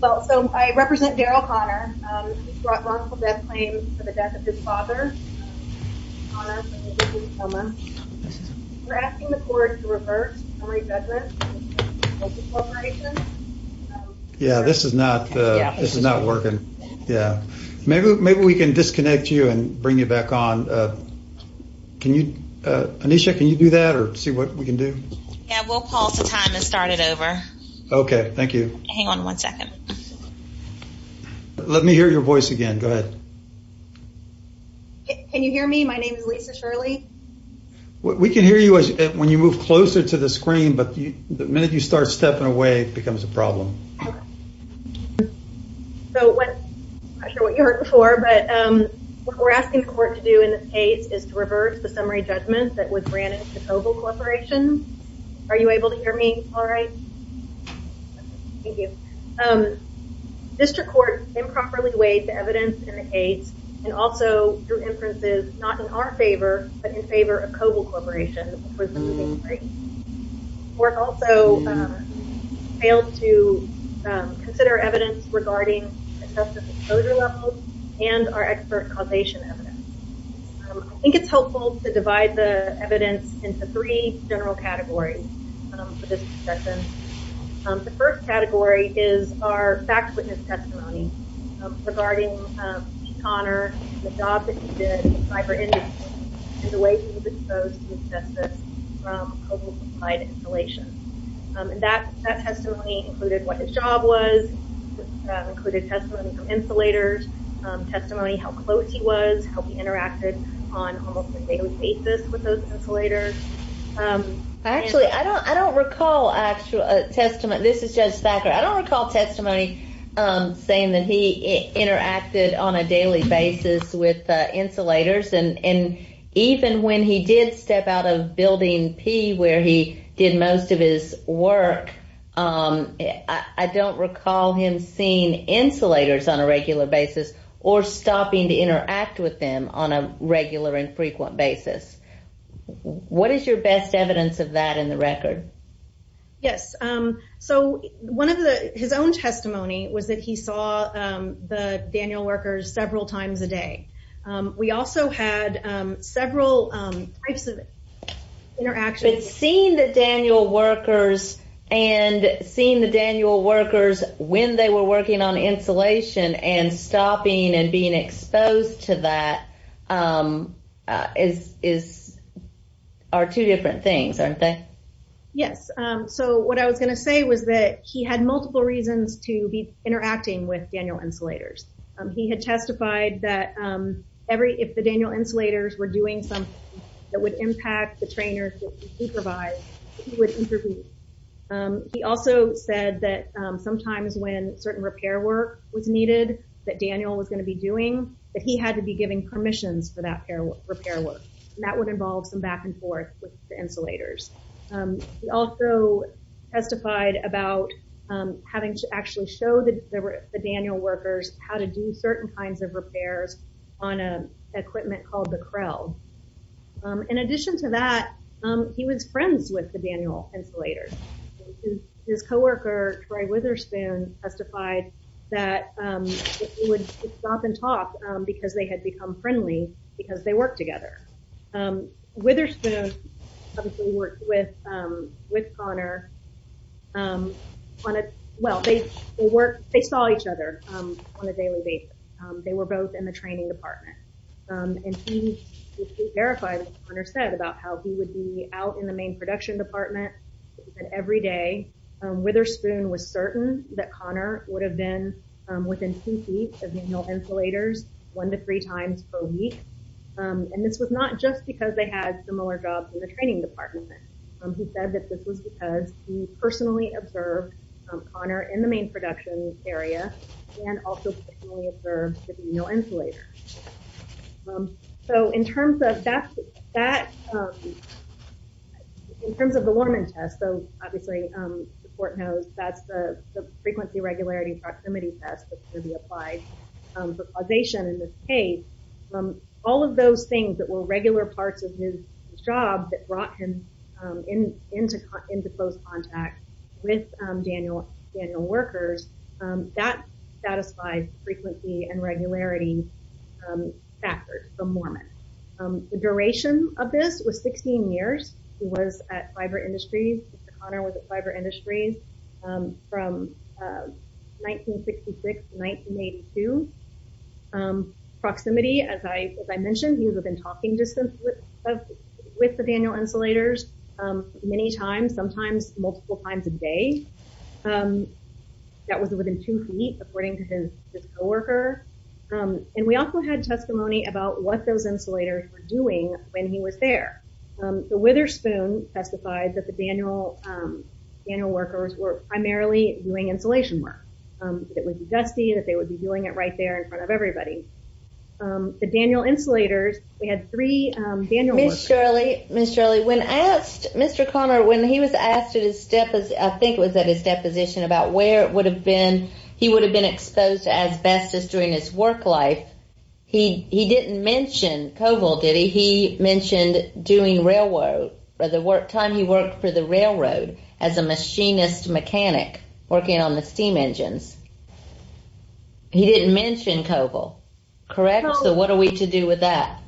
Well so I represent Darrell Connor. He's brought multiple death claims for the death of his father, Connor, and his wife, Emma. We're asking the court to reverse summary judgment of Covil Corporation. Yeah, this is not, this is not working. Yeah, maybe we can disconnect you and bring you back on. Can you, Anisha, can you do that or see what we can do? Yeah, we'll pause the time and start it over. Okay, thank you. Hang on one second. Let me hear your voice again. Go ahead. Can you hear me? My name is Lisa Shirley. We can hear you when you move closer to the screen, but the minute you start stepping away, it becomes a problem. Okay. So what, I'm not sure what you heard before, but what we're asking the court to do in this case is to reverse the summary judgment that was granted to Covil Corporation. Are you able to hear me all right? Thank you. District Court improperly weighed the evidence in the case and also drew inferences, not in our favor, but in favor of Covil Corporation. Court also failed to consider evidence regarding excessive exposure levels and our expert causation evidence. I think it's helpful to divide the evidence into three general categories for this discussion. The first category is our fact witness testimony regarding Pete Conner, the job that he did in the cyber industry, and the way he was exposed to his justice from Covil-complied installation. That testimony included what his job was, included testimony from insulators, testimony how close he was, how he interacted on almost a daily basis with those insulators. Actually, I don't recall actual testimony. This is Judge Thacker. I don't recall testimony saying that he interacted on a daily basis with insulators, and even when he did step out of Building P where he did most of his work, I don't recall him seeing insulators on a regular basis or stopping to interact with them on a regular and frequent basis. What is your best evidence of that in the record? Yes. So his own testimony was that he saw the Daniel workers several times a day. We also had several types of interactions. But seeing the Daniel workers and seeing the Daniel workers when they were working on insulation and stopping and being exposed to that are two different things, aren't they? Yes. So what I was going to say was that he had multiple reasons to be interacting with Daniel insulators. He had testified that if the Daniel insulators were doing something that would impact the trainers that he supervised, he would intervene. He also said that sometimes when certain repair work was needed that Daniel was going to be doing, that he had to be giving permissions for that repair work, and that would involve some back and forth with the insulators. He also testified about having to actually show the Daniel workers how to do certain kinds of repairs on equipment called the Krell. In addition to that, he was friends with the Daniel insulators. His coworker, Troy Witherspoon, testified that he would stop and talk because they had become friendly because they worked together. Witherspoon obviously worked with Connor. Well, they saw each other on a daily basis. They were both in the training department. And he verified what Connor said about how he would be out in the main production department. And every day Witherspoon was certain that Connor would have been within two feet of Daniel insulators one to three times per week. And this was not just because they had similar jobs in the training department. He said that this was because he personally observed Connor in the main production area, and also personally observed the Daniel insulators. So in terms of that, in terms of the Lorman test, so obviously the court knows that's the frequency, regularity, and proximity test that's going to be applied for causation in this case. All of those things that were regular parts of his job that brought him into close contact with Daniel workers, that satisfied frequency and regularity factors for Lorman. The duration of this was 16 years. He was at Fiber Industries. Mr. Connor was at Fiber Industries from 1966 to 1982. Proximity, as I mentioned, he would have been talking with the Daniel insulators many times, sometimes multiple times a day. That was within two feet, according to his co-worker. And we also had testimony about what those insulators were doing when he was there. The Witherspoon testified that the Daniel workers were primarily doing insulation work. That it would be dusty, that they would be doing it right there in front of everybody. The Daniel insulators, they had three Daniel workers. Ms. Shirley, Mr. Connor, when he was asked, I think it was at his deposition, about where he would have been exposed to asbestos during his work life, he didn't mention Coble, did he? He mentioned doing railroad. By the time he worked for the railroad as a machinist mechanic, working on the steam engines. He didn't mention Coble, correct? So what are we to do with that?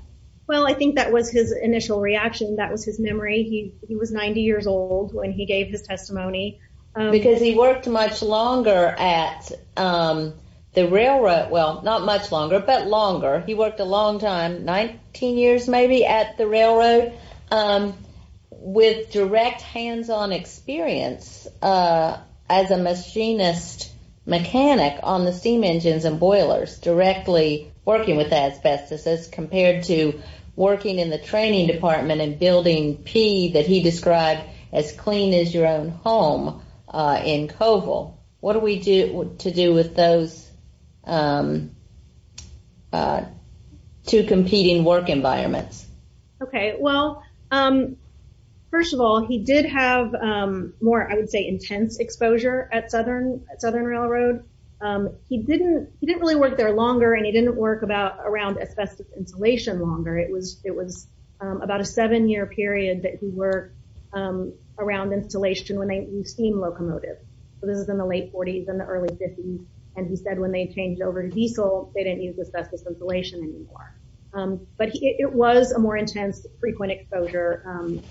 Well, I think that was his initial reaction. That was his memory. He was 90 years old when he gave his testimony. Because he worked much longer at the railroad. Well, not much longer, but longer. He worked a long time, 19 years, maybe, at the railroad. With direct hands-on experience as a machinist mechanic on the steam engines and boilers. Directly working with asbestos, as compared to working in the training department and building P, that he described as clean as your own home, in Coble. What are we to do with those two competing work environments? Okay, well, first of all, he did have more, I would say, intense exposure at Southern Railroad. He didn't really work there longer, and he didn't work around asbestos insulation longer. It was about a seven-year period that he worked around insulation when they used steam locomotives. This was in the late 40s and the early 50s. And he said when they changed over to diesel, they didn't use asbestos insulation anymore. But it was a more intense, frequent exposure at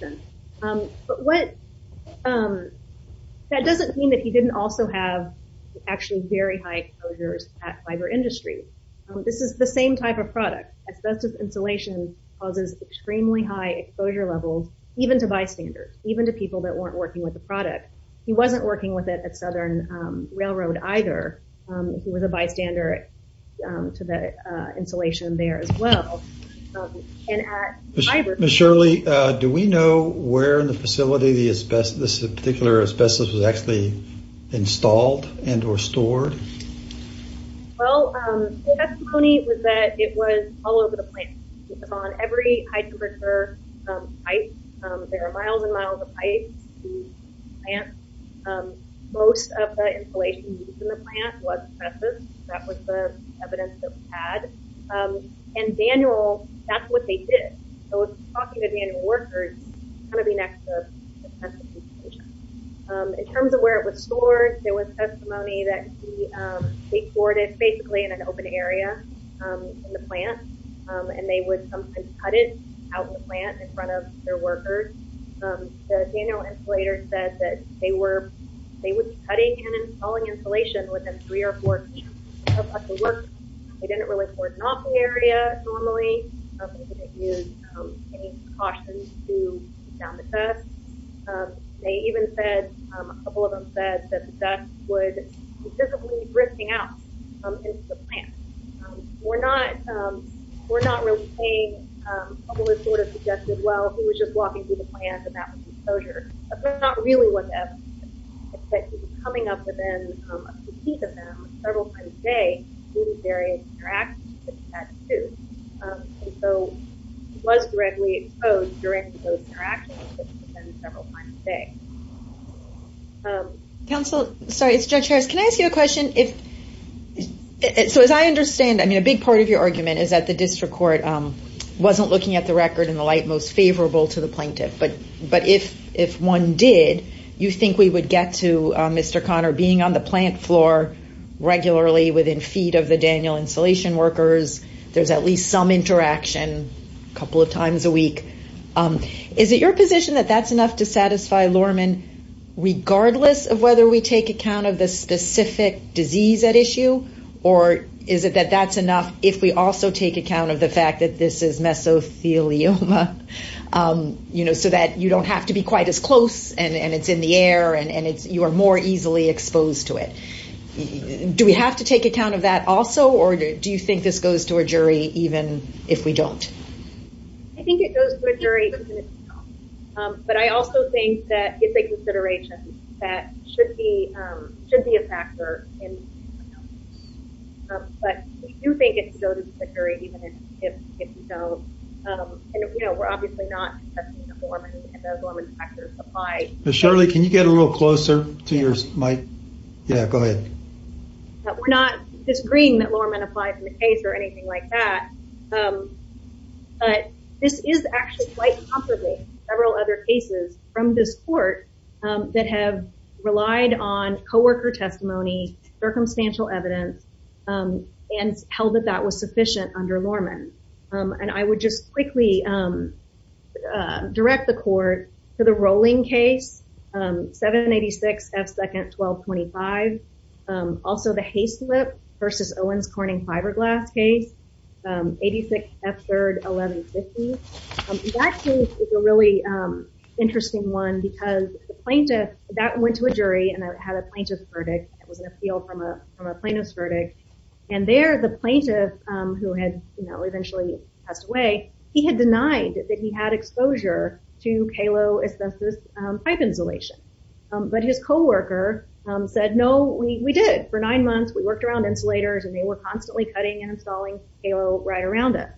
Southern Railroad. But that doesn't mean that he didn't also have actually very high exposures at fiber industry. This is the same type of product. Asbestos insulation causes extremely high exposure levels, even to bystanders, even to people that weren't working with the product. He wasn't working with it at Southern Railroad, either. He was a bystander to the insulation there, as well. Ms. Shirley, do we know where in the facility this particular asbestos was actually installed and or stored? Well, the testimony was that it was all over the plant. It was on every high-temperature pipe. There were miles and miles of pipes to the plant. Most of the insulation used in the plant was asbestos. That was the evidence that we had. And Daniel, that's what they did. So, if you're talking to Daniel Worker, it's going to be next to asbestos insulation. In terms of where it was stored, there was testimony that he stored it basically in an open area in the plant. And they would sometimes cut it out in the plant in front of their workers. The Daniel insulator said that they were cutting and installing insulation within three or four weeks of the work. They didn't really cordon off the area normally. They didn't use any precautions to keep down the pests. They even said, a couple of them said, that the pests would be physically drifting out into the plant. We're not really saying what was sort of suggested. Well, he was just walking through the plant, and that was exposure. That's not really what that was. But he was coming up within a few feet of them several times a day, doing various interactions with the tattoos. And so, he was directly exposed during those interactions within several times a day. Counsel, sorry, it's Judge Harris. Can I ask you a question? So, as I understand, I mean, a big part of your argument is that the district court wasn't looking at the record in the light most favorable to the plaintiff. But if one did, you think we would get to Mr. Conner being on the plant floor regularly within feet of the Daniel insulation workers. There's at least some interaction a couple of times a week. Is it your position that that's enough to satisfy Lorman, regardless of whether we take account of the specific disease at issue? Or is it that that's enough if we also take account of the fact that this is mesothelioma? You know, so that you don't have to be quite as close, and it's in the air, and you are more easily exposed to it. Do we have to take account of that also? Or do you think this goes to a jury, even if we don't? I think it goes to a jury. But I also think that it's a consideration that should be a factor. But we do think it goes to the jury, even if we don't. And, you know, we're obviously not testing the Lorman, and those Lorman factors apply. Ms. Shirley, can you get a little closer to your mic? Yeah, go ahead. We're not disagreeing that Lorman applied in the case or anything like that. But this is actually quite comparable to several other cases from this court that have relied on co-worker testimony, circumstantial evidence, and held that that was sufficient under Lorman. And I would just quickly direct the court to the Rowling case, 786 F. 2nd. 1225. Also, the Haislip v. Owens Corning fiberglass case, 86 F. 3rd. 1150. That case is a really interesting one because the plaintiff, that went to a jury, and it had a plaintiff's verdict. It was an appeal from a plaintiff's verdict. And there, the plaintiff, who had, you know, eventually passed away, he had denied that he had exposure to KALO asbestos pipe insulation. But his co-worker said, no, we did. For nine months, we worked around insulators, and they were constantly cutting and installing KALO right around us.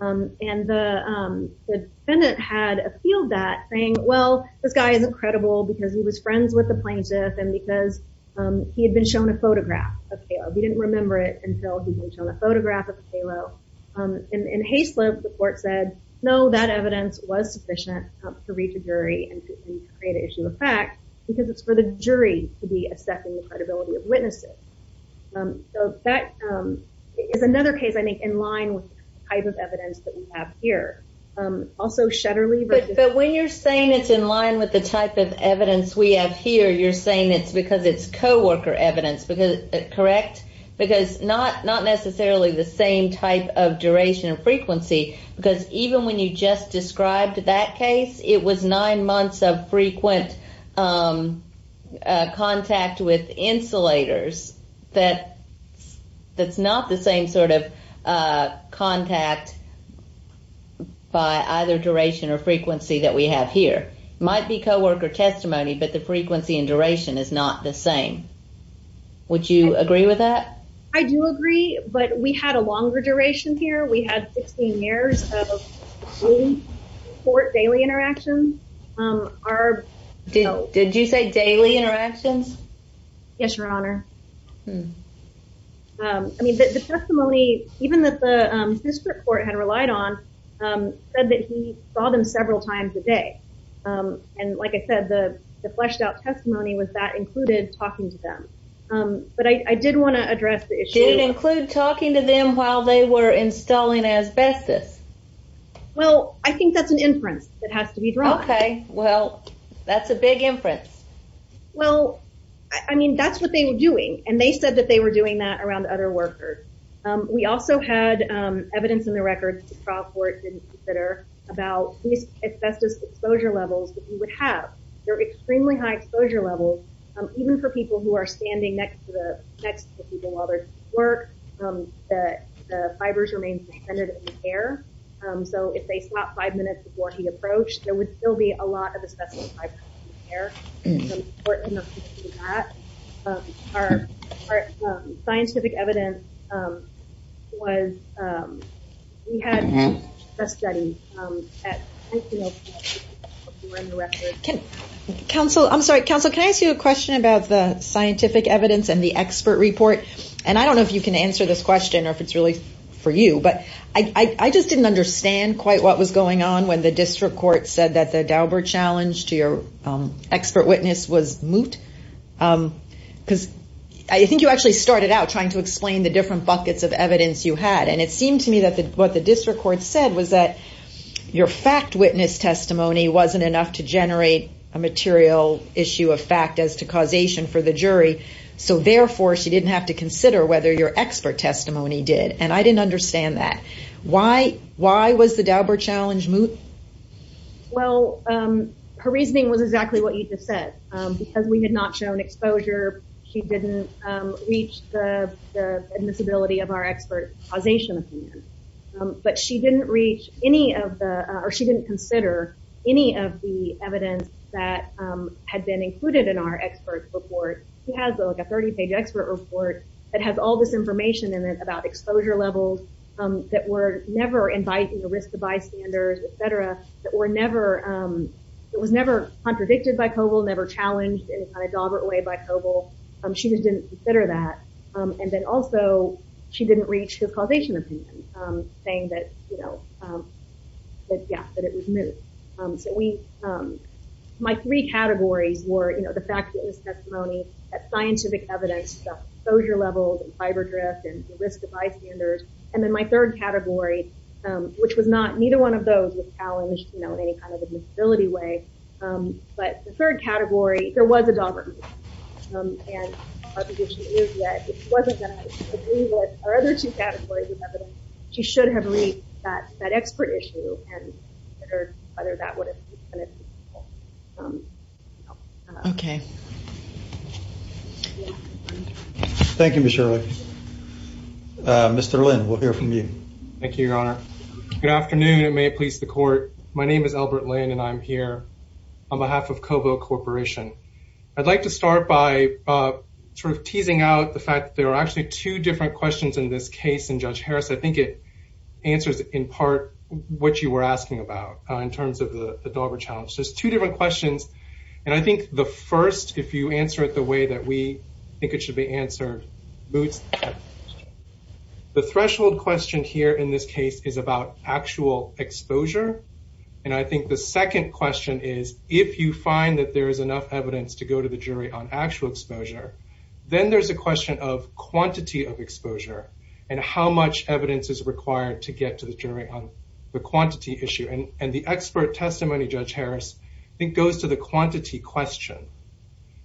And the defendant had appealed that, saying, well, this guy is incredible because he was friends with the plaintiff, and because he had been shown a photograph of KALO. He didn't remember it until he was shown a photograph of KALO. In Haislip, the court said, no, that evidence was sufficient to reach a jury and create an issue of fact because it's for the jury to be assessing the credibility of witnesses. So that is another case, I think, in line with the type of evidence that we have here. Also, Shetterly v. But when you're saying it's in line with the type of evidence we have here, you're saying it's because it's co-worker evidence, correct? Because not necessarily the same type of duration and frequency, because even when you just described that case, it was nine months of frequent contact with insulators. That's not the same sort of contact by either duration or frequency that we have here. It might be co-worker testimony, but the frequency and duration is not the same. Would you agree with that? I do agree, but we had a longer duration here. We had 16 years of court daily interactions. Did you say daily interactions? Yes, Your Honor. I mean, the testimony, even that the district court had relied on, said that he saw them several times a day. And like I said, the fleshed out testimony was that included talking to them. But I did want to address the issue. Did it include talking to them while they were installing asbestos? Well, I think that's an inference that has to be drawn. Okay, well, that's a big inference. Well, I mean, that's what they were doing, and they said that they were doing that around other workers. We also had evidence in the record that the trial court didn't consider about these asbestos exposure levels that you would have. They're extremely high exposure levels, even for people who are standing next to the people while they're doing work. The fibers remain suspended in the air. So if they stopped five minutes before he approached, there would still be a lot of asbestos fibers in the air. It's important to note that. Our scientific evidence was, we had a study. Counsel, I'm sorry. Counsel, can I ask you a question about the scientific evidence and the expert report? And I don't know if you can answer this question or if it's really for you. But I just didn't understand quite what was going on when the district court said that the Dauber challenge to your expert witness was moot. Because I think you actually started out trying to explain the different buckets of evidence you had. And it seemed to me that what the district court said was that your fact witness testimony wasn't enough to generate a material issue of fact as to causation for the jury. So therefore, she didn't have to consider whether your expert testimony did. And I didn't understand that. Why was the Dauber challenge moot? Well, her reasoning was exactly what you just said. Because we had not shown exposure, she didn't reach the admissibility of our expert causation opinion. But she didn't reach any of the, or she didn't consider any of the evidence that had been included in our expert report. She has like a 30-page expert report that has all this information in it about exposure levels that were never inviting the risk of bystanders, et cetera, that were never, it was never contradicted by Coble, never challenged in a kind of Daubert way by Coble. She just didn't consider that. And then also, she didn't reach his causation opinion saying that, you know, that, yeah, that it was moot. So we, my three categories were, you know, the fact that it was testimony, that scientific evidence, the exposure levels, and fiber drift, and the risk of bystanders. And then my third category, which was not, neither one of those was challenged, you know, in any kind of admissibility way. But the third category, there was a Daubert moot. And our position is that if she wasn't going to agree with our other two categories of evidence, she should have reached that expert issue and considered whether that would have been helpful. Okay. Thank you, Ms. Shirley. Mr. Lynn, we'll hear from you. Thank you, Your Honor. Good afternoon, and may it please the Court. My name is Albert Lynn, and I'm here on behalf of Coble Corporation. I'd like to start by sort of teasing out the fact that there are actually two different questions in this case in Judge Harris. I think it answers, in part, what you were asking about in terms of the Daubert challenge. There's two different questions. And I think the first, if you answer it the way that we think it should be answered, moots. The threshold question here in this case is about actual exposure. And I think the second question is, if you find that there is enough evidence to go to the jury on actual exposure, then there's a question of quantity of exposure and how much evidence is required to get to the jury on the quantity issue. And the expert testimony, Judge Harris, I think goes to the quantity question.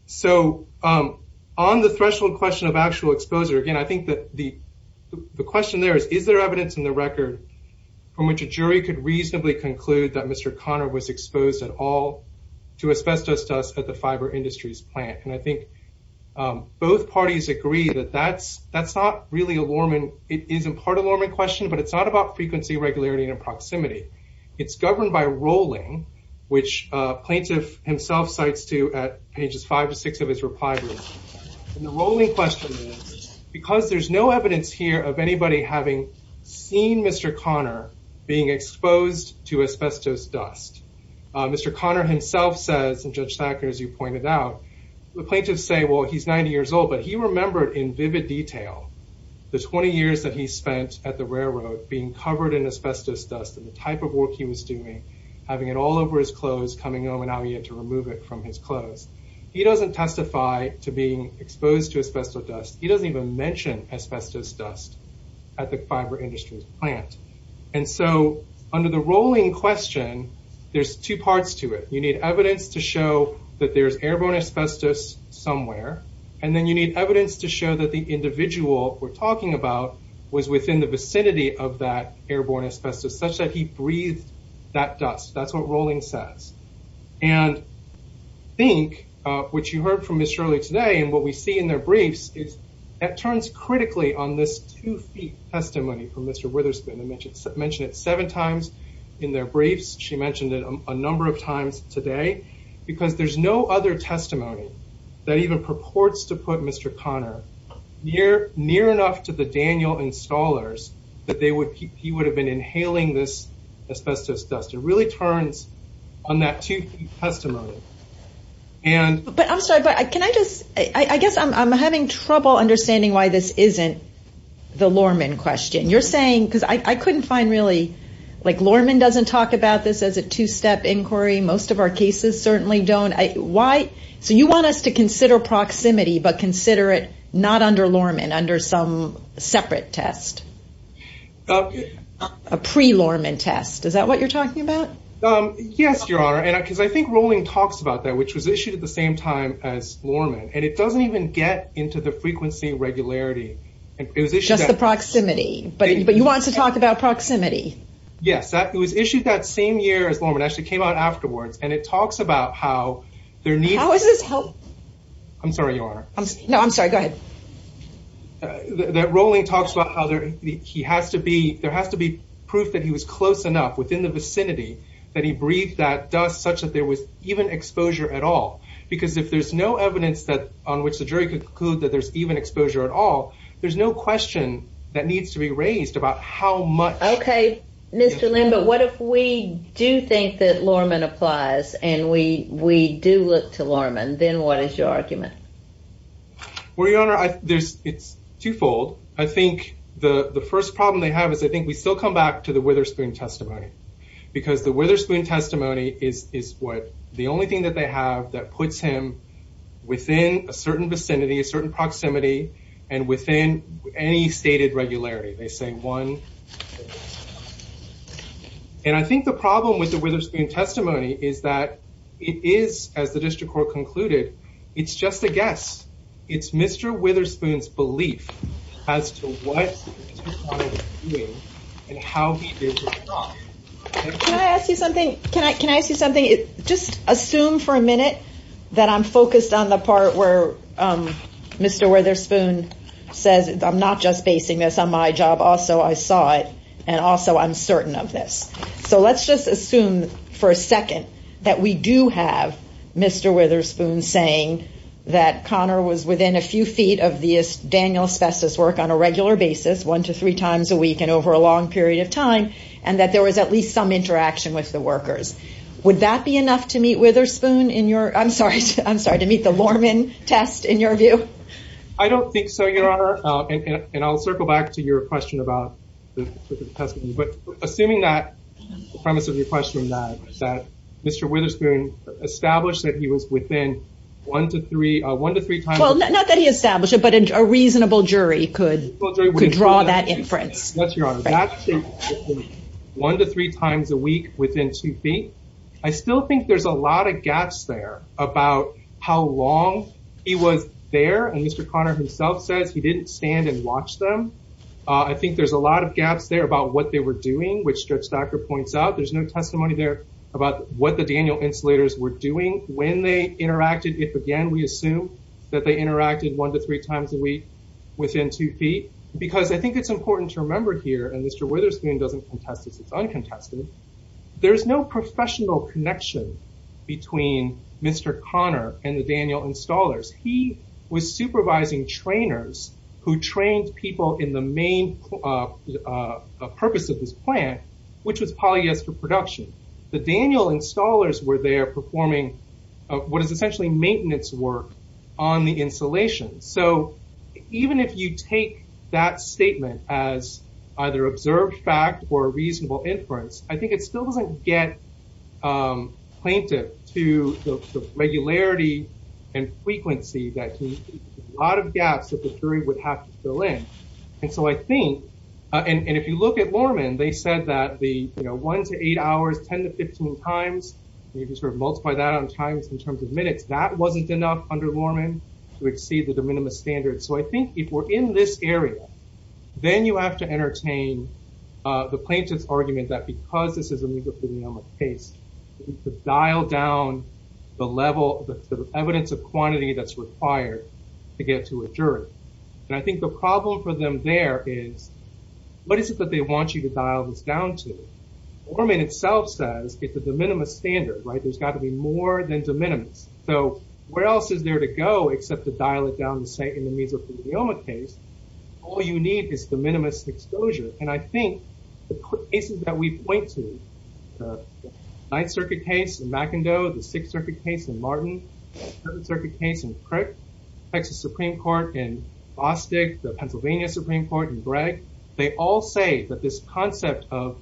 So, on the threshold question of actual exposure, again, I think that the question there is, is there evidence in the record from which a jury could reasonably conclude that Mr. Connor was exposed at all to asbestos dust at the Fiber Industries plant? And I think both parties agree that that's not really a Lorman. It is in part a Lorman question, but it's not about frequency, regularity, and proximity. It's governed by rolling, which plaintiff himself cites to at pages five to six of his reply. And the rolling question is, because there's no evidence here of anybody having seen Mr. Connor being exposed to asbestos dust, Mr. Connor himself says, and Judge Thacker, as you pointed out, the plaintiffs say, well, he's 90 years old, but he remembered in vivid detail the 20 years that he spent at the railroad being covered in asbestos dust. And the type of work he was doing, having it all over his clothes, coming home, and now he had to remove it from his clothes. He doesn't testify to being exposed to asbestos dust. He doesn't even mention asbestos dust at the Fiber Industries plant. And so, under the rolling question, there's two parts to it. You need evidence to show that there's airborne asbestos somewhere. And then you need evidence to show that the individual we're talking about was within the vicinity of that airborne asbestos, such that he breathed that dust. That's what rolling says. And I think, which you heard from Ms. Shirley today, and what we see in their briefs, it turns critically on this two-feet testimony from Mr. Witherspoon. I mentioned it seven times in their briefs. She mentioned it a number of times today. Because there's no other testimony that even purports to put Mr. Connor near enough to the Daniel and scholars that he would have been inhaling this asbestos dust. It really turns on that two-feet testimony. And – But I'm sorry, but can I just – I guess I'm having trouble understanding why this isn't the Lorman question. You're saying – because I couldn't find really – like, Lorman doesn't talk about this as a two-step inquiry. Most of our cases certainly don't. Why – so you want us to consider proximity, but consider it not under Lorman, under some separate test. A pre-Lorman test. Is that what you're talking about? Yes, Your Honor. Because I think rolling talks about that, which was issued at the same time as Lorman. And it doesn't even get into the frequency regularity. Just the proximity. But you want to talk about proximity. Yes. It was issued that same year as Lorman. It actually came out afterwards. And it talks about how there needs – How is this – I'm sorry, Your Honor. No, I'm sorry. Go ahead. That rolling talks about how there – he has to be – there has to be proof that he was close enough within the vicinity that he breathed that dust such that there was even exposure at all. Because if there's no evidence that – on which the jury could conclude that there's even exposure at all, there's no question that needs to be raised about how much – Okay. Mr. Lim, but what if we do think that Lorman applies and we do look to Lorman? Then what is your argument? Well, Your Honor, there's – it's twofold. I think the first problem they have is I think we still come back to the Witherspoon testimony. Because the Witherspoon testimony is what – the only thing that they have that puts him within a certain vicinity, a certain proximity, and within any stated regularity. They say one – And I think the problem with the Witherspoon testimony is that it is, as the district court concluded, it's just a guess. It's Mr. Witherspoon's belief as to what Mr. Conner was doing and how he did it or not. Can I ask you something? Can I ask you something? Just assume for a minute that I'm focused on the part where Mr. Witherspoon says I'm not just basing this on my job. Also, I saw it. And also, I'm certain of this. So let's just assume for a second that we do have Mr. Witherspoon saying that Conner was within a few feet of the Daniel's asbestos work on a regular basis, one to three times a week and over a long period of time, and that there was at least some interaction with the workers. Would that be enough to meet Witherspoon in your – I'm sorry, to meet the Lorman test in your view? I don't think so, Your Honor. And I'll circle back to your question about the testimony. But assuming that – the premise of your question is that Mr. Witherspoon established that he was within one to three times – Well, not that he established it, but a reasonable jury could draw that inference. Yes, Your Honor. That's true. One to three times a week within two feet. I still think there's a lot of gaps there about how long he was there. And Mr. Conner himself says he didn't stand and watch them. I think there's a lot of gaps there about what they were doing, which Stretch Thacker points out. There's no testimony there about what the Daniel insulators were doing, when they interacted. If, again, we assume that they interacted one to three times a week within two feet. Because I think it's important to remember here, and Mr. Witherspoon doesn't contest this. It's uncontested. There's no professional connection between Mr. Conner and the Daniel installers. He was supervising trainers who trained people in the main purpose of this plant, which was polyester production. The Daniel installers were there performing what is essentially maintenance work on the insulation. So even if you take that statement as either observed fact or reasonable inference, I think it still doesn't get plaintiff to the regularity and frequency that a lot of gaps that the jury would have to fill in. And so I think, and if you look at Lorman, they said that the one to eight hours, 10 to 15 times, you can sort of multiply that on times in terms of minutes. That wasn't enough under Lorman to exceed the de minimis standards. So I think if we're in this area, then you have to entertain the plaintiff's argument that because this is a case, dial down the level of evidence of quantity that's required to get to a jury. And I think the problem for them there is, what is it that they want you to dial this down to? Lorman itself says it's a de minimis standard, right? There's got to be more than de minimis. So where else is there to go except to dial it down and say in the mesothelioma case, all you need is de minimis exposure. And I think the cases that we point to, the Ninth Circuit case in McIndoe, the Sixth Circuit case in Martin, the Seventh Circuit case in Crick, Texas Supreme Court in Bostick, the Pennsylvania Supreme Court in Bragg, they all say that this concept of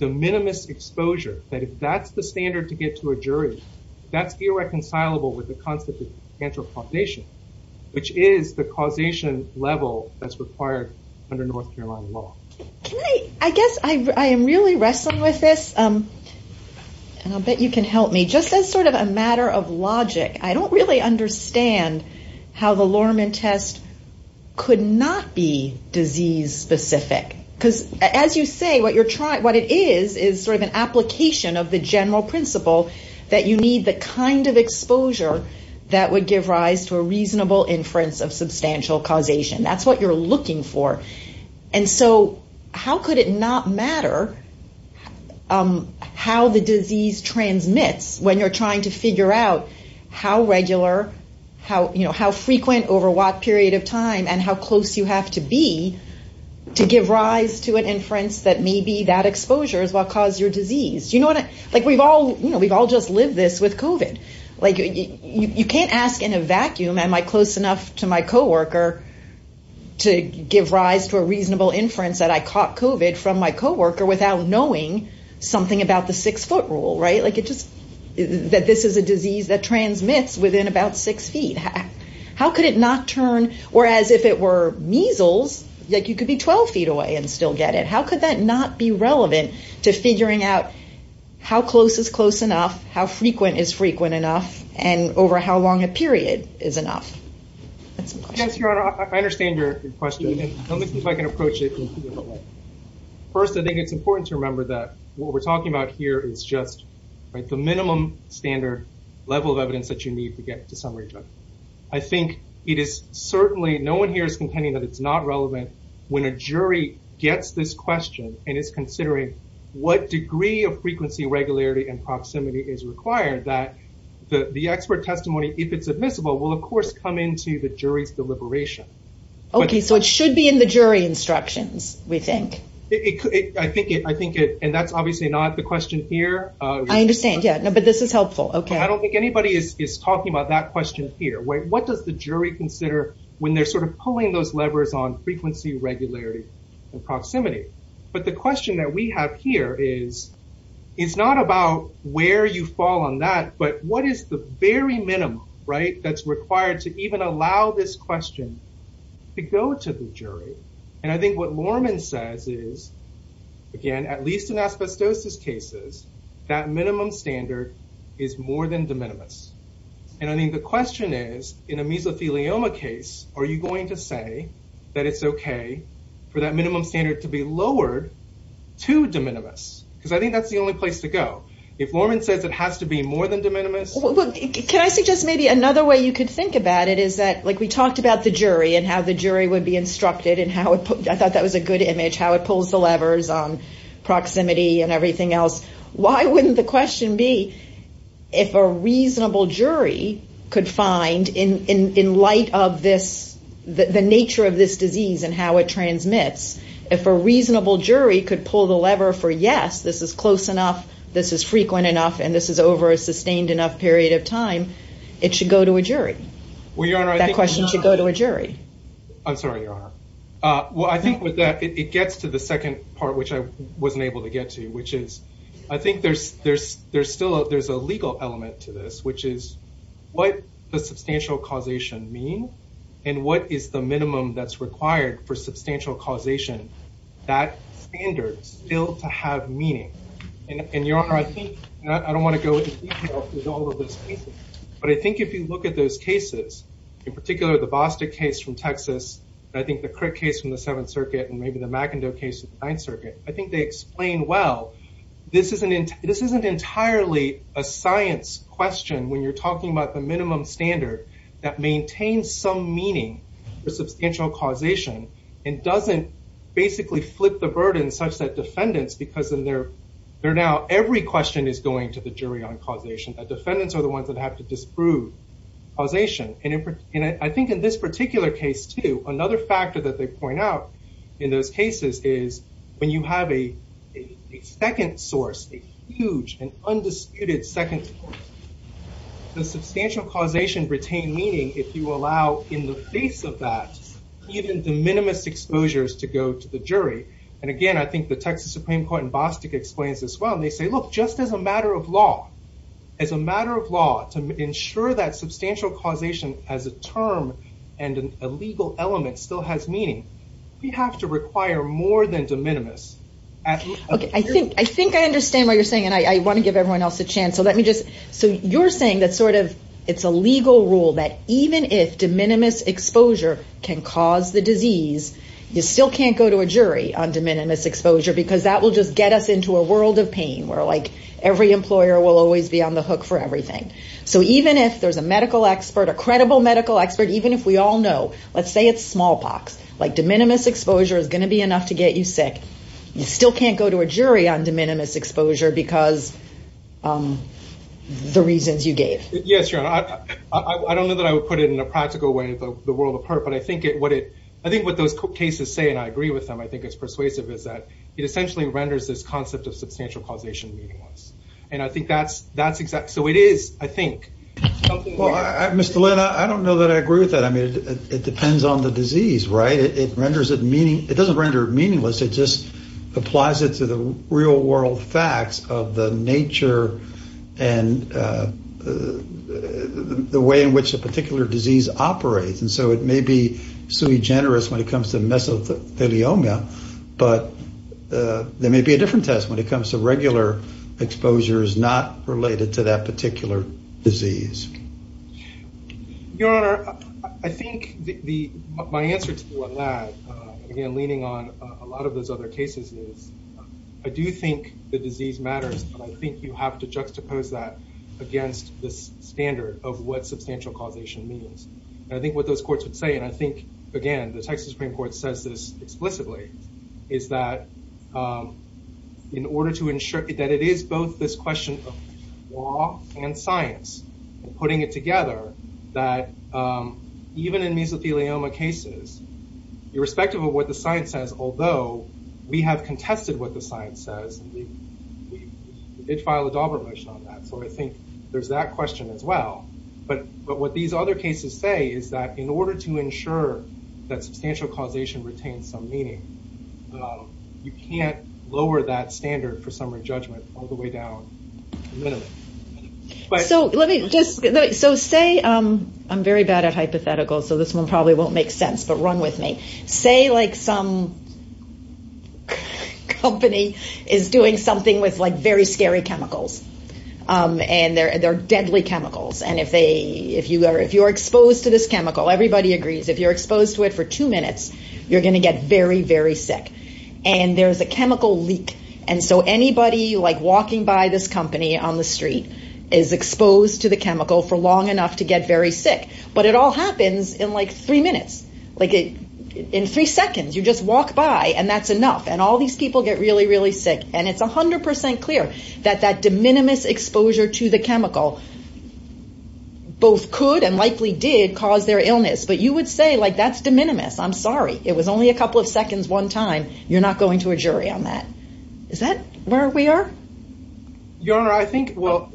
de minimis exposure, that if that's the standard to get to a jury, that's irreconcilable with the concept of cancer causation, which is the causation level that's required under North Carolina law. I guess I am really wrestling with this, and I'll bet you can help me. Just as sort of a matter of logic, I don't really understand how the Lorman test could not be disease-specific. Because as you say, what it is is sort of an application of the general principle that you need the kind of exposure that would give rise to a reasonable inference of substantial causation. That's what you're looking for. And so how could it not matter how the disease transmits when you're trying to figure out how regular, how frequent over what period of time and how close you have to be to give rise to an inference that maybe that exposure is what caused your disease? We've all just lived this with COVID. You can't ask in a vacuum, am I close enough to my co-worker to give rise to a reasonable inference that I caught COVID from my co-worker without knowing something about the six-foot rule, right? That this is a disease that transmits within about six feet. How could it not turn, or as if it were measles, you could be 12 feet away and still get it. How could that not be relevant to figuring out how close is close enough, how frequent is frequent enough, and over how long a period is enough? Yes, Your Honor, I understand your question. Let me see if I can approach it. First, I think it's important to remember that what we're talking about here is just the minimum standard level of evidence that you need to get to summary judgment. I think it is certainly, no one here is contending that it's not relevant when a jury gets this question and is considering what degree of frequency, regularity, and proximity is required that the expert testimony, if it's admissible, will of course come into the jury's deliberation. Okay, so it should be in the jury instructions, we think. I think it, and that's obviously not the question here. I understand, yeah, but this is helpful. I don't think anybody is talking about that question here. What does the jury consider when they're sort of pulling those levers on frequency, regularity, and proximity? But the question that we have here is, it's not about where you fall on that, but what is the very minimum, right, that's required to even allow this question to go to the jury? And I think what Lorman says is, again, at least in asbestosis cases, that minimum standard is more than de minimis. And I think the question is, in a mesothelioma case, are you going to say that it's okay for that minimum standard to be lowered to de minimis? Because I think that's the only place to go. If Lorman says it has to be more than de minimis... I thought that was a good image, how it pulls the levers on proximity and everything else. Why wouldn't the question be, if a reasonable jury could find, in light of the nature of this disease and how it transmits, if a reasonable jury could pull the lever for, yes, this is close enough, this is frequent enough, and this is over a sustained enough period of time, it should go to a jury. That question should go to a jury. I'm sorry, Your Honor. Well, I think with that, it gets to the second part, which I wasn't able to get to, which is, I think there's still a legal element to this, which is, what does substantial causation mean, and what is the minimum that's required for substantial causation? That standard is still to have meaning. And, Your Honor, I think, and I don't want to go into detail with all of those cases, but I think if you look at those cases, in particular the Bostick case from Texas, and I think the Crick case from the Seventh Circuit, and maybe the McIndoe case of the Ninth Circuit, I think they explain well, this isn't entirely a science question when you're talking about the minimum standard that maintains some meaning for substantial causation and doesn't basically flip the burden such that defendants, because now every question is going to the jury on causation. The defendants are the ones that have to disprove causation. And I think in this particular case, too, another factor that they point out in those cases is, when you have a second source, a huge and undisputed second source, does substantial causation retain meaning if you allow, in the face of that, even the minimist exposures to go to the jury? And again, I think the Texas Supreme Court in Bostick explains this well. They say, look, just as a matter of law, as a matter of law, to ensure that substantial causation as a term and a legal element still has meaning, we have to require more than de minimis. Okay, I think I understand what you're saying, and I want to give everyone else a chance. So let me just, so you're saying that sort of it's a legal rule that even if de minimis exposure can cause the disease, you still can't go to a jury on de minimis exposure because that will just get us into a world of pain where like every employer will always be on the hook for everything. So even if there's a medical expert, a credible medical expert, even if we all know, let's say it's smallpox, like de minimis exposure is going to be enough to get you sick, you still can't go to a jury on de minimis exposure because the reasons you gave. Yes, Your Honor. I don't know that I would put it in a practical way, the world apart, but I think what those cases say, and I agree with them, I think it's persuasive, is that it essentially renders this concept of substantial causation meaningless. And I think that's exactly, so it is, I think. Mr. Lin, I don't know that I agree with that. I mean, it depends on the disease, right? It doesn't render it meaningless, it just applies it to the real world facts of the nature and the way in which a particular disease operates. And so it may be sui generis when it comes to mesothelioma, but there may be a different test when it comes to regular exposures not related to that particular disease. Your Honor, I think my answer to that, again, leaning on a lot of those other cases, I do think the disease matters, but I think you have to juxtapose that against this standard of what substantial causation means. And I think what those courts would say, and I think, again, the Texas Supreme Court says this explicitly, is that in order to ensure that it is both this question of law and science, and putting it together, that even in mesothelioma cases, irrespective of what the science says, although we have contested what the science says, we did file a Daubert motion on that, so I think there's that question as well. But what these other cases say is that in order to ensure that substantial causation retains some meaning, you can't lower that standard for summary judgment all the way down to the minimum. So let me just, so say, I'm very bad at hypotheticals, so this one probably won't make sense, but run with me. Say like some company is doing something with like very scary chemicals, and they're deadly chemicals, and if you are exposed to this chemical, everybody agrees, if you're exposed to it for two minutes, you're going to get very, very sick. And there's a chemical leak, and so anybody like walking by this company on the street is exposed to the chemical for long enough to get very sick. But it all happens in like three minutes. Like in three seconds, you just walk by, and that's enough. And all these people get really, really sick. And it's 100% clear that that de minimis exposure to the chemical both could and likely did cause their illness. But you would say like that's de minimis. I'm sorry. It was only a couple of seconds one time. You're not going to a jury on that. Is that where we are? Your Honor, I think, well,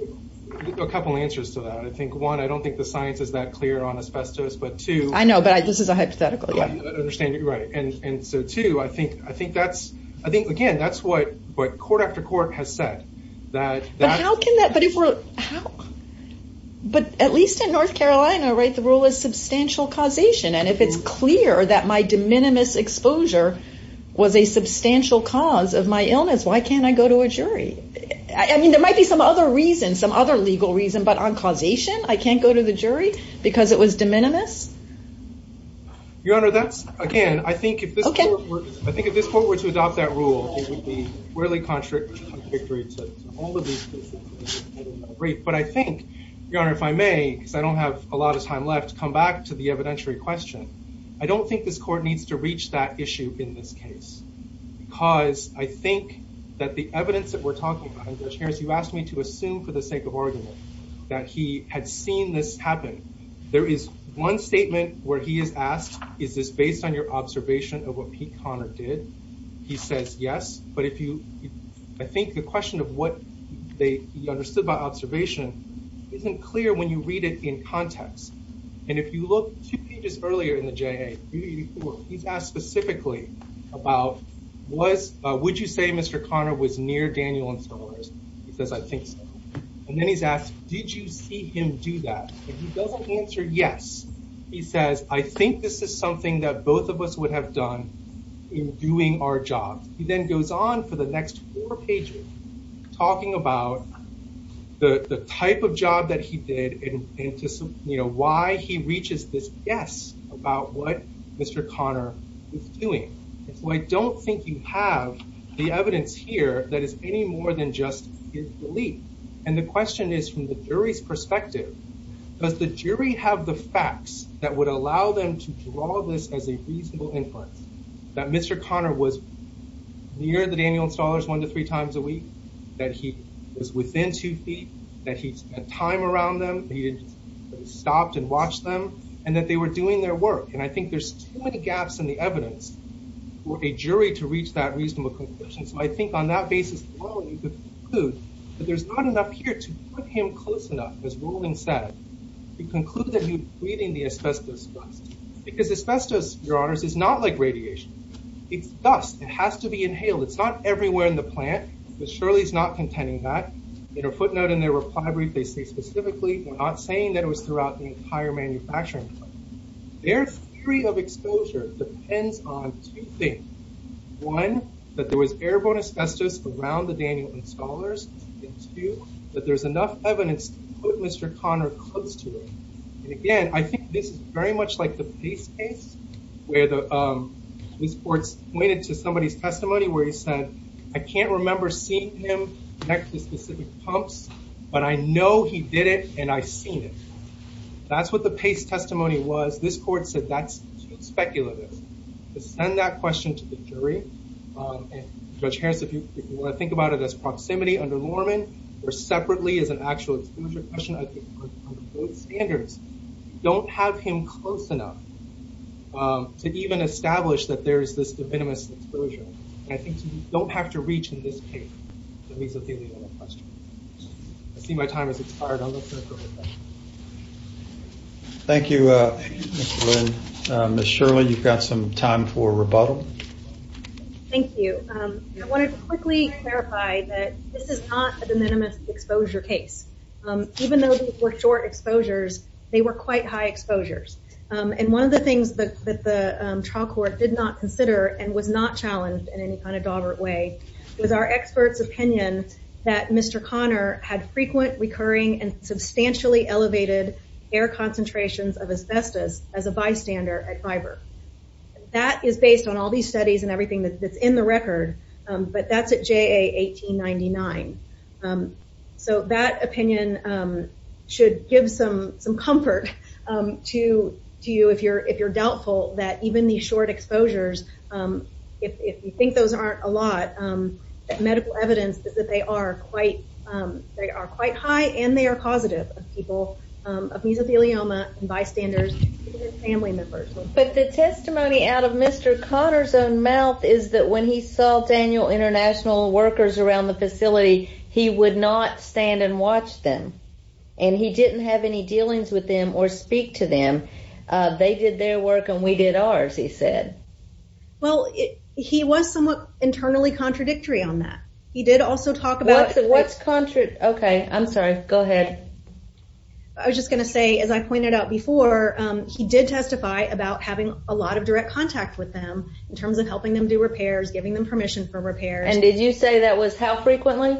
a couple answers to that. I think, one, I don't think the science is that clear on asbestos. But, two, I know, but this is a hypothetical. I understand you're right. And so, two, I think that's, I think, again, that's what court after court has said. But how can that, but if we're, how, but at least in North Carolina, right, the rule is substantial causation. And if it's clear that my de minimis exposure was a substantial cause of my illness, why can't I go to a jury? I mean, there might be some other reason, some other legal reason. But on causation, I can't go to the jury because it was de minimis? Your Honor, that's, again, I think if this court were to adopt that rule, it would be really contradictory to all of these cases. But I think, Your Honor, if I may, because I don't have a lot of time left, come back to the evidentiary question. I don't think this court needs to reach that issue in this case. Because I think that the evidence that we're talking about, Judge Harris, you asked me to assume for the sake of argument that he had seen this happen. There is one statement where he is asked, is this based on your observation of what Pete Connor did? He says yes. But if you, I think the question of what he understood by observation isn't clear when you read it in context. And if you look two pages earlier in the J.A., he's asked specifically about was, would you say Mr. Connor was near Daniel and Solaris? He says, I think so. And then he's asked, did you see him do that? If he doesn't answer yes, he says, I think this is something that both of us would have done in doing our job. He then goes on for the next four pages talking about the type of job that he did and why he reaches this guess about what Mr. Connor was doing. I don't think you have the evidence here that is any more than just his belief. And the question is, from the jury's perspective, does the jury have the facts that would allow them to draw this as a reasonable inference that Mr. Connor was near the Daniel installers one to three times a week, that he was within two feet, that he spent time around them. He stopped and watched them and that they were doing their work. And I think there's too many gaps in the evidence for a jury to reach that reasonable conclusion. So I think on that basis, you could conclude that there's not enough here to put him close enough, as Roland said, to conclude that he was breathing the asbestos dust. Because asbestos, your honors, is not like radiation. It's dust. It has to be inhaled. It's not everywhere in the plant. But surely he's not contending that. In a footnote in their reply brief, they say specifically, we're not saying that it was throughout the entire manufacturing. Their theory of exposure depends on two things. One, that there was airborne asbestos around the Daniel installers. And two, that there's enough evidence to put Mr. Connor close to it. And again, I think this is very much like the Pace case where the police force pointed to somebody's testimony where he said, I can't remember seeing him next to specific pumps, but I know he did it and I seen it. That's what the Pace testimony was. This court said that's speculative. To send that question to the jury, and Judge Harris, if you want to think about it as proximity under Lorman, or separately as an actual exposure question, I think under both standards, you don't have him close enough to even establish that there is this de minimis exposure. I think you don't have to reach in this case. I see my time has expired. Thank you. Ms. Shirley, you've got some time for rebuttal. Thank you. I wanted to quickly clarify that this is not a de minimis exposure case. Even though they were short exposures, they were quite high exposures. And one of the things that the trial court did not consider and was not challenged in any kind of dolbert way was our expert's opinion that Mr. Connor had frequent, recurring, and substantially elevated air concentrations of asbestos as a bystander at Viber. That is based on all these studies and everything that's in the record. But that's at JA 1899. So that opinion should give some comfort to you if you're doubtful that even these short exposures, if you think those aren't a lot, that medical evidence is that they are quite high and they are causative of people of mesothelioma and bystanders and family members. But the testimony out of Mr. Connor's own mouth is that when he saw Daniel International workers around the facility, he would not stand and watch them. And he didn't have any dealings with them or speak to them. They did their work and we did ours, he said. Well, he was somewhat internally contradictory on that. He did also talk about... Okay, I'm sorry. Go ahead. I was just going to say, as I pointed out before, he did testify about having a lot of direct contact with them in terms of helping them do repairs, giving them permission for repairs. And did you say that was how frequently?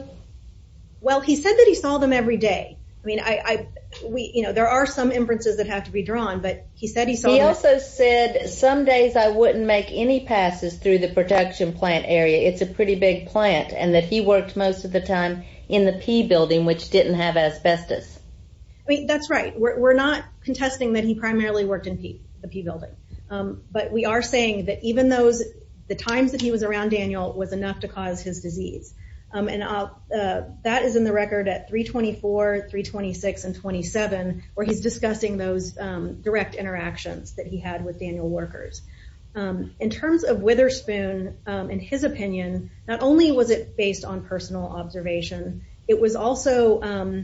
Well, he said that he saw them every day. I mean, there are some inferences that have to be drawn, but he said he saw them... I mean, that's right. We're not contesting that he primarily worked in the P building. But we are saying that even the times that he was around Daniel was enough to cause his disease. And that is in the record at 324, 326, and 27 where he's discussing those direct interactions that he had with Daniel workers. In terms of Witherspoon and his opinion, not only was it based on personal observation, it was also...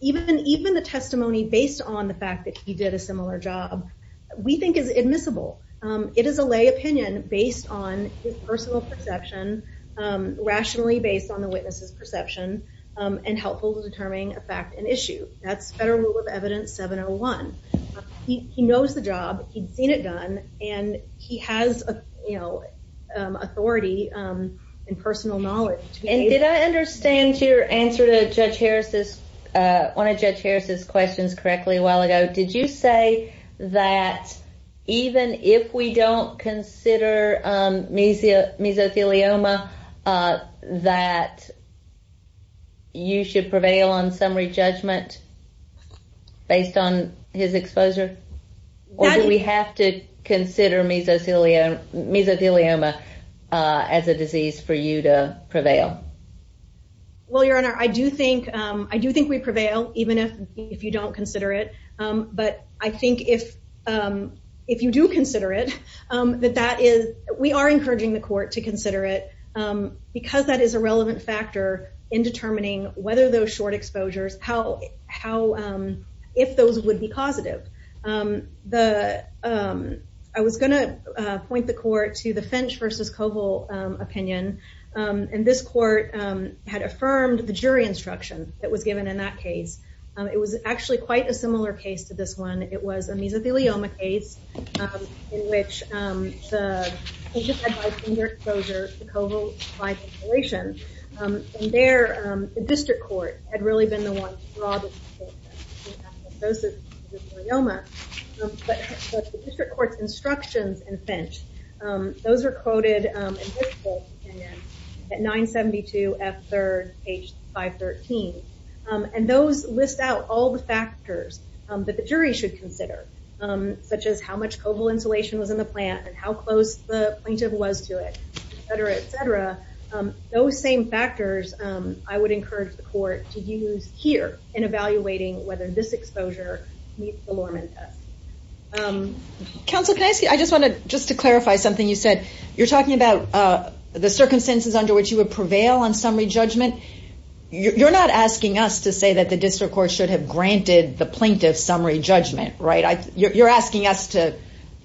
Even the testimony based on the fact that he did a similar job we think is admissible. It is a lay opinion based on his personal perception, rationally based on the witness's perception, and helpful in determining a fact and issue. That's Federal Rule of Evidence 701. He knows the job. He'd seen it done. And he has authority and personal knowledge. And did I understand your answer to one of Judge Harris's questions correctly a while ago? Did you say that even if we don't consider mesothelioma, that you should prevail on summary judgment based on his exposure? Or do we have to consider mesothelioma as a disease for you to prevail? Well, Your Honor, I do think we prevail even if you don't consider it. But I think if you do consider it, that that is... We are encouraging the court to consider it because that is a relevant factor in determining whether those short exposures, how... If those would be positive. I was going to point the court to the Finch versus Koval opinion. And this court had affirmed the jury instruction that was given in that case. It was actually quite a similar case to this one. It was a mesothelioma case in which the patient had high finger exposure to Koval's high ventilation. And there, the district court had really been the one to draw the distinction. Those are mesothelioma. But the district court's instructions in Finch, those are quoted in this court's opinion at 972 F. 3rd, page 513. And those list out all the factors that the jury should consider, such as how much Koval insulation was in the plant and how close the plaintiff was to it, et cetera, et cetera. Those same factors I would encourage the court to use here in evaluating whether this exposure meets the Lorman test. Counsel, can I ask you, I just want to, just to clarify something you said. You're talking about the circumstances under which you would prevail on summary judgment. You're not asking us to say that the district court should have granted the plaintiff summary judgment, right? You're asking us to,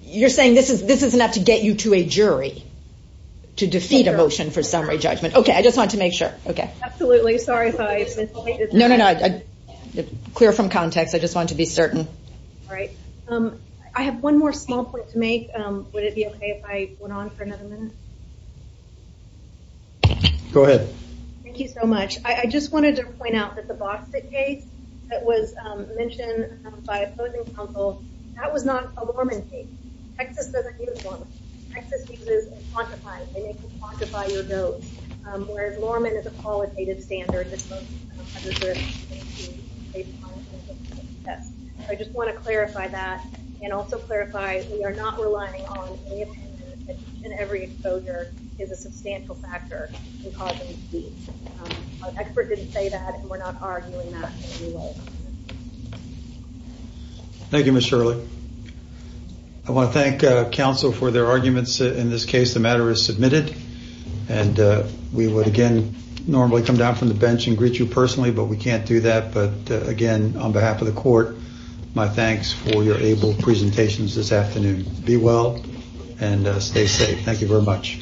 you're saying this is enough to get you to a jury to defeat a motion for summary judgment. Okay, I just wanted to make sure. Okay. Absolutely. Sorry if I misinterpreted that. No, no, no. Clear from context. I just wanted to be certain. All right. I have one more small point to make. Would it be okay if I went on for another minute? Go ahead. Thank you so much. I just wanted to point out that the Bostick case that was mentioned by opposing counsel, that was not a Lorman case. Texas doesn't use Lorman. Texas uses a quantifier. They make you quantify your votes. Whereas, Lorman is a qualitative standard that most of us have observed. I just want to clarify that and also clarify that we are not relying on any and every exposure is a substantial factor in causing defeat. Our expert didn't say that and we're not arguing that. Thank you, Ms. Shirley. I want to thank counsel for their arguments. In this case, the matter is submitted. And we would, again, normally come down from the bench and greet you personally, but we can't do that. But, again, on behalf of the court, my thanks for your able presentations this afternoon. Be well and stay safe. Thank you very much.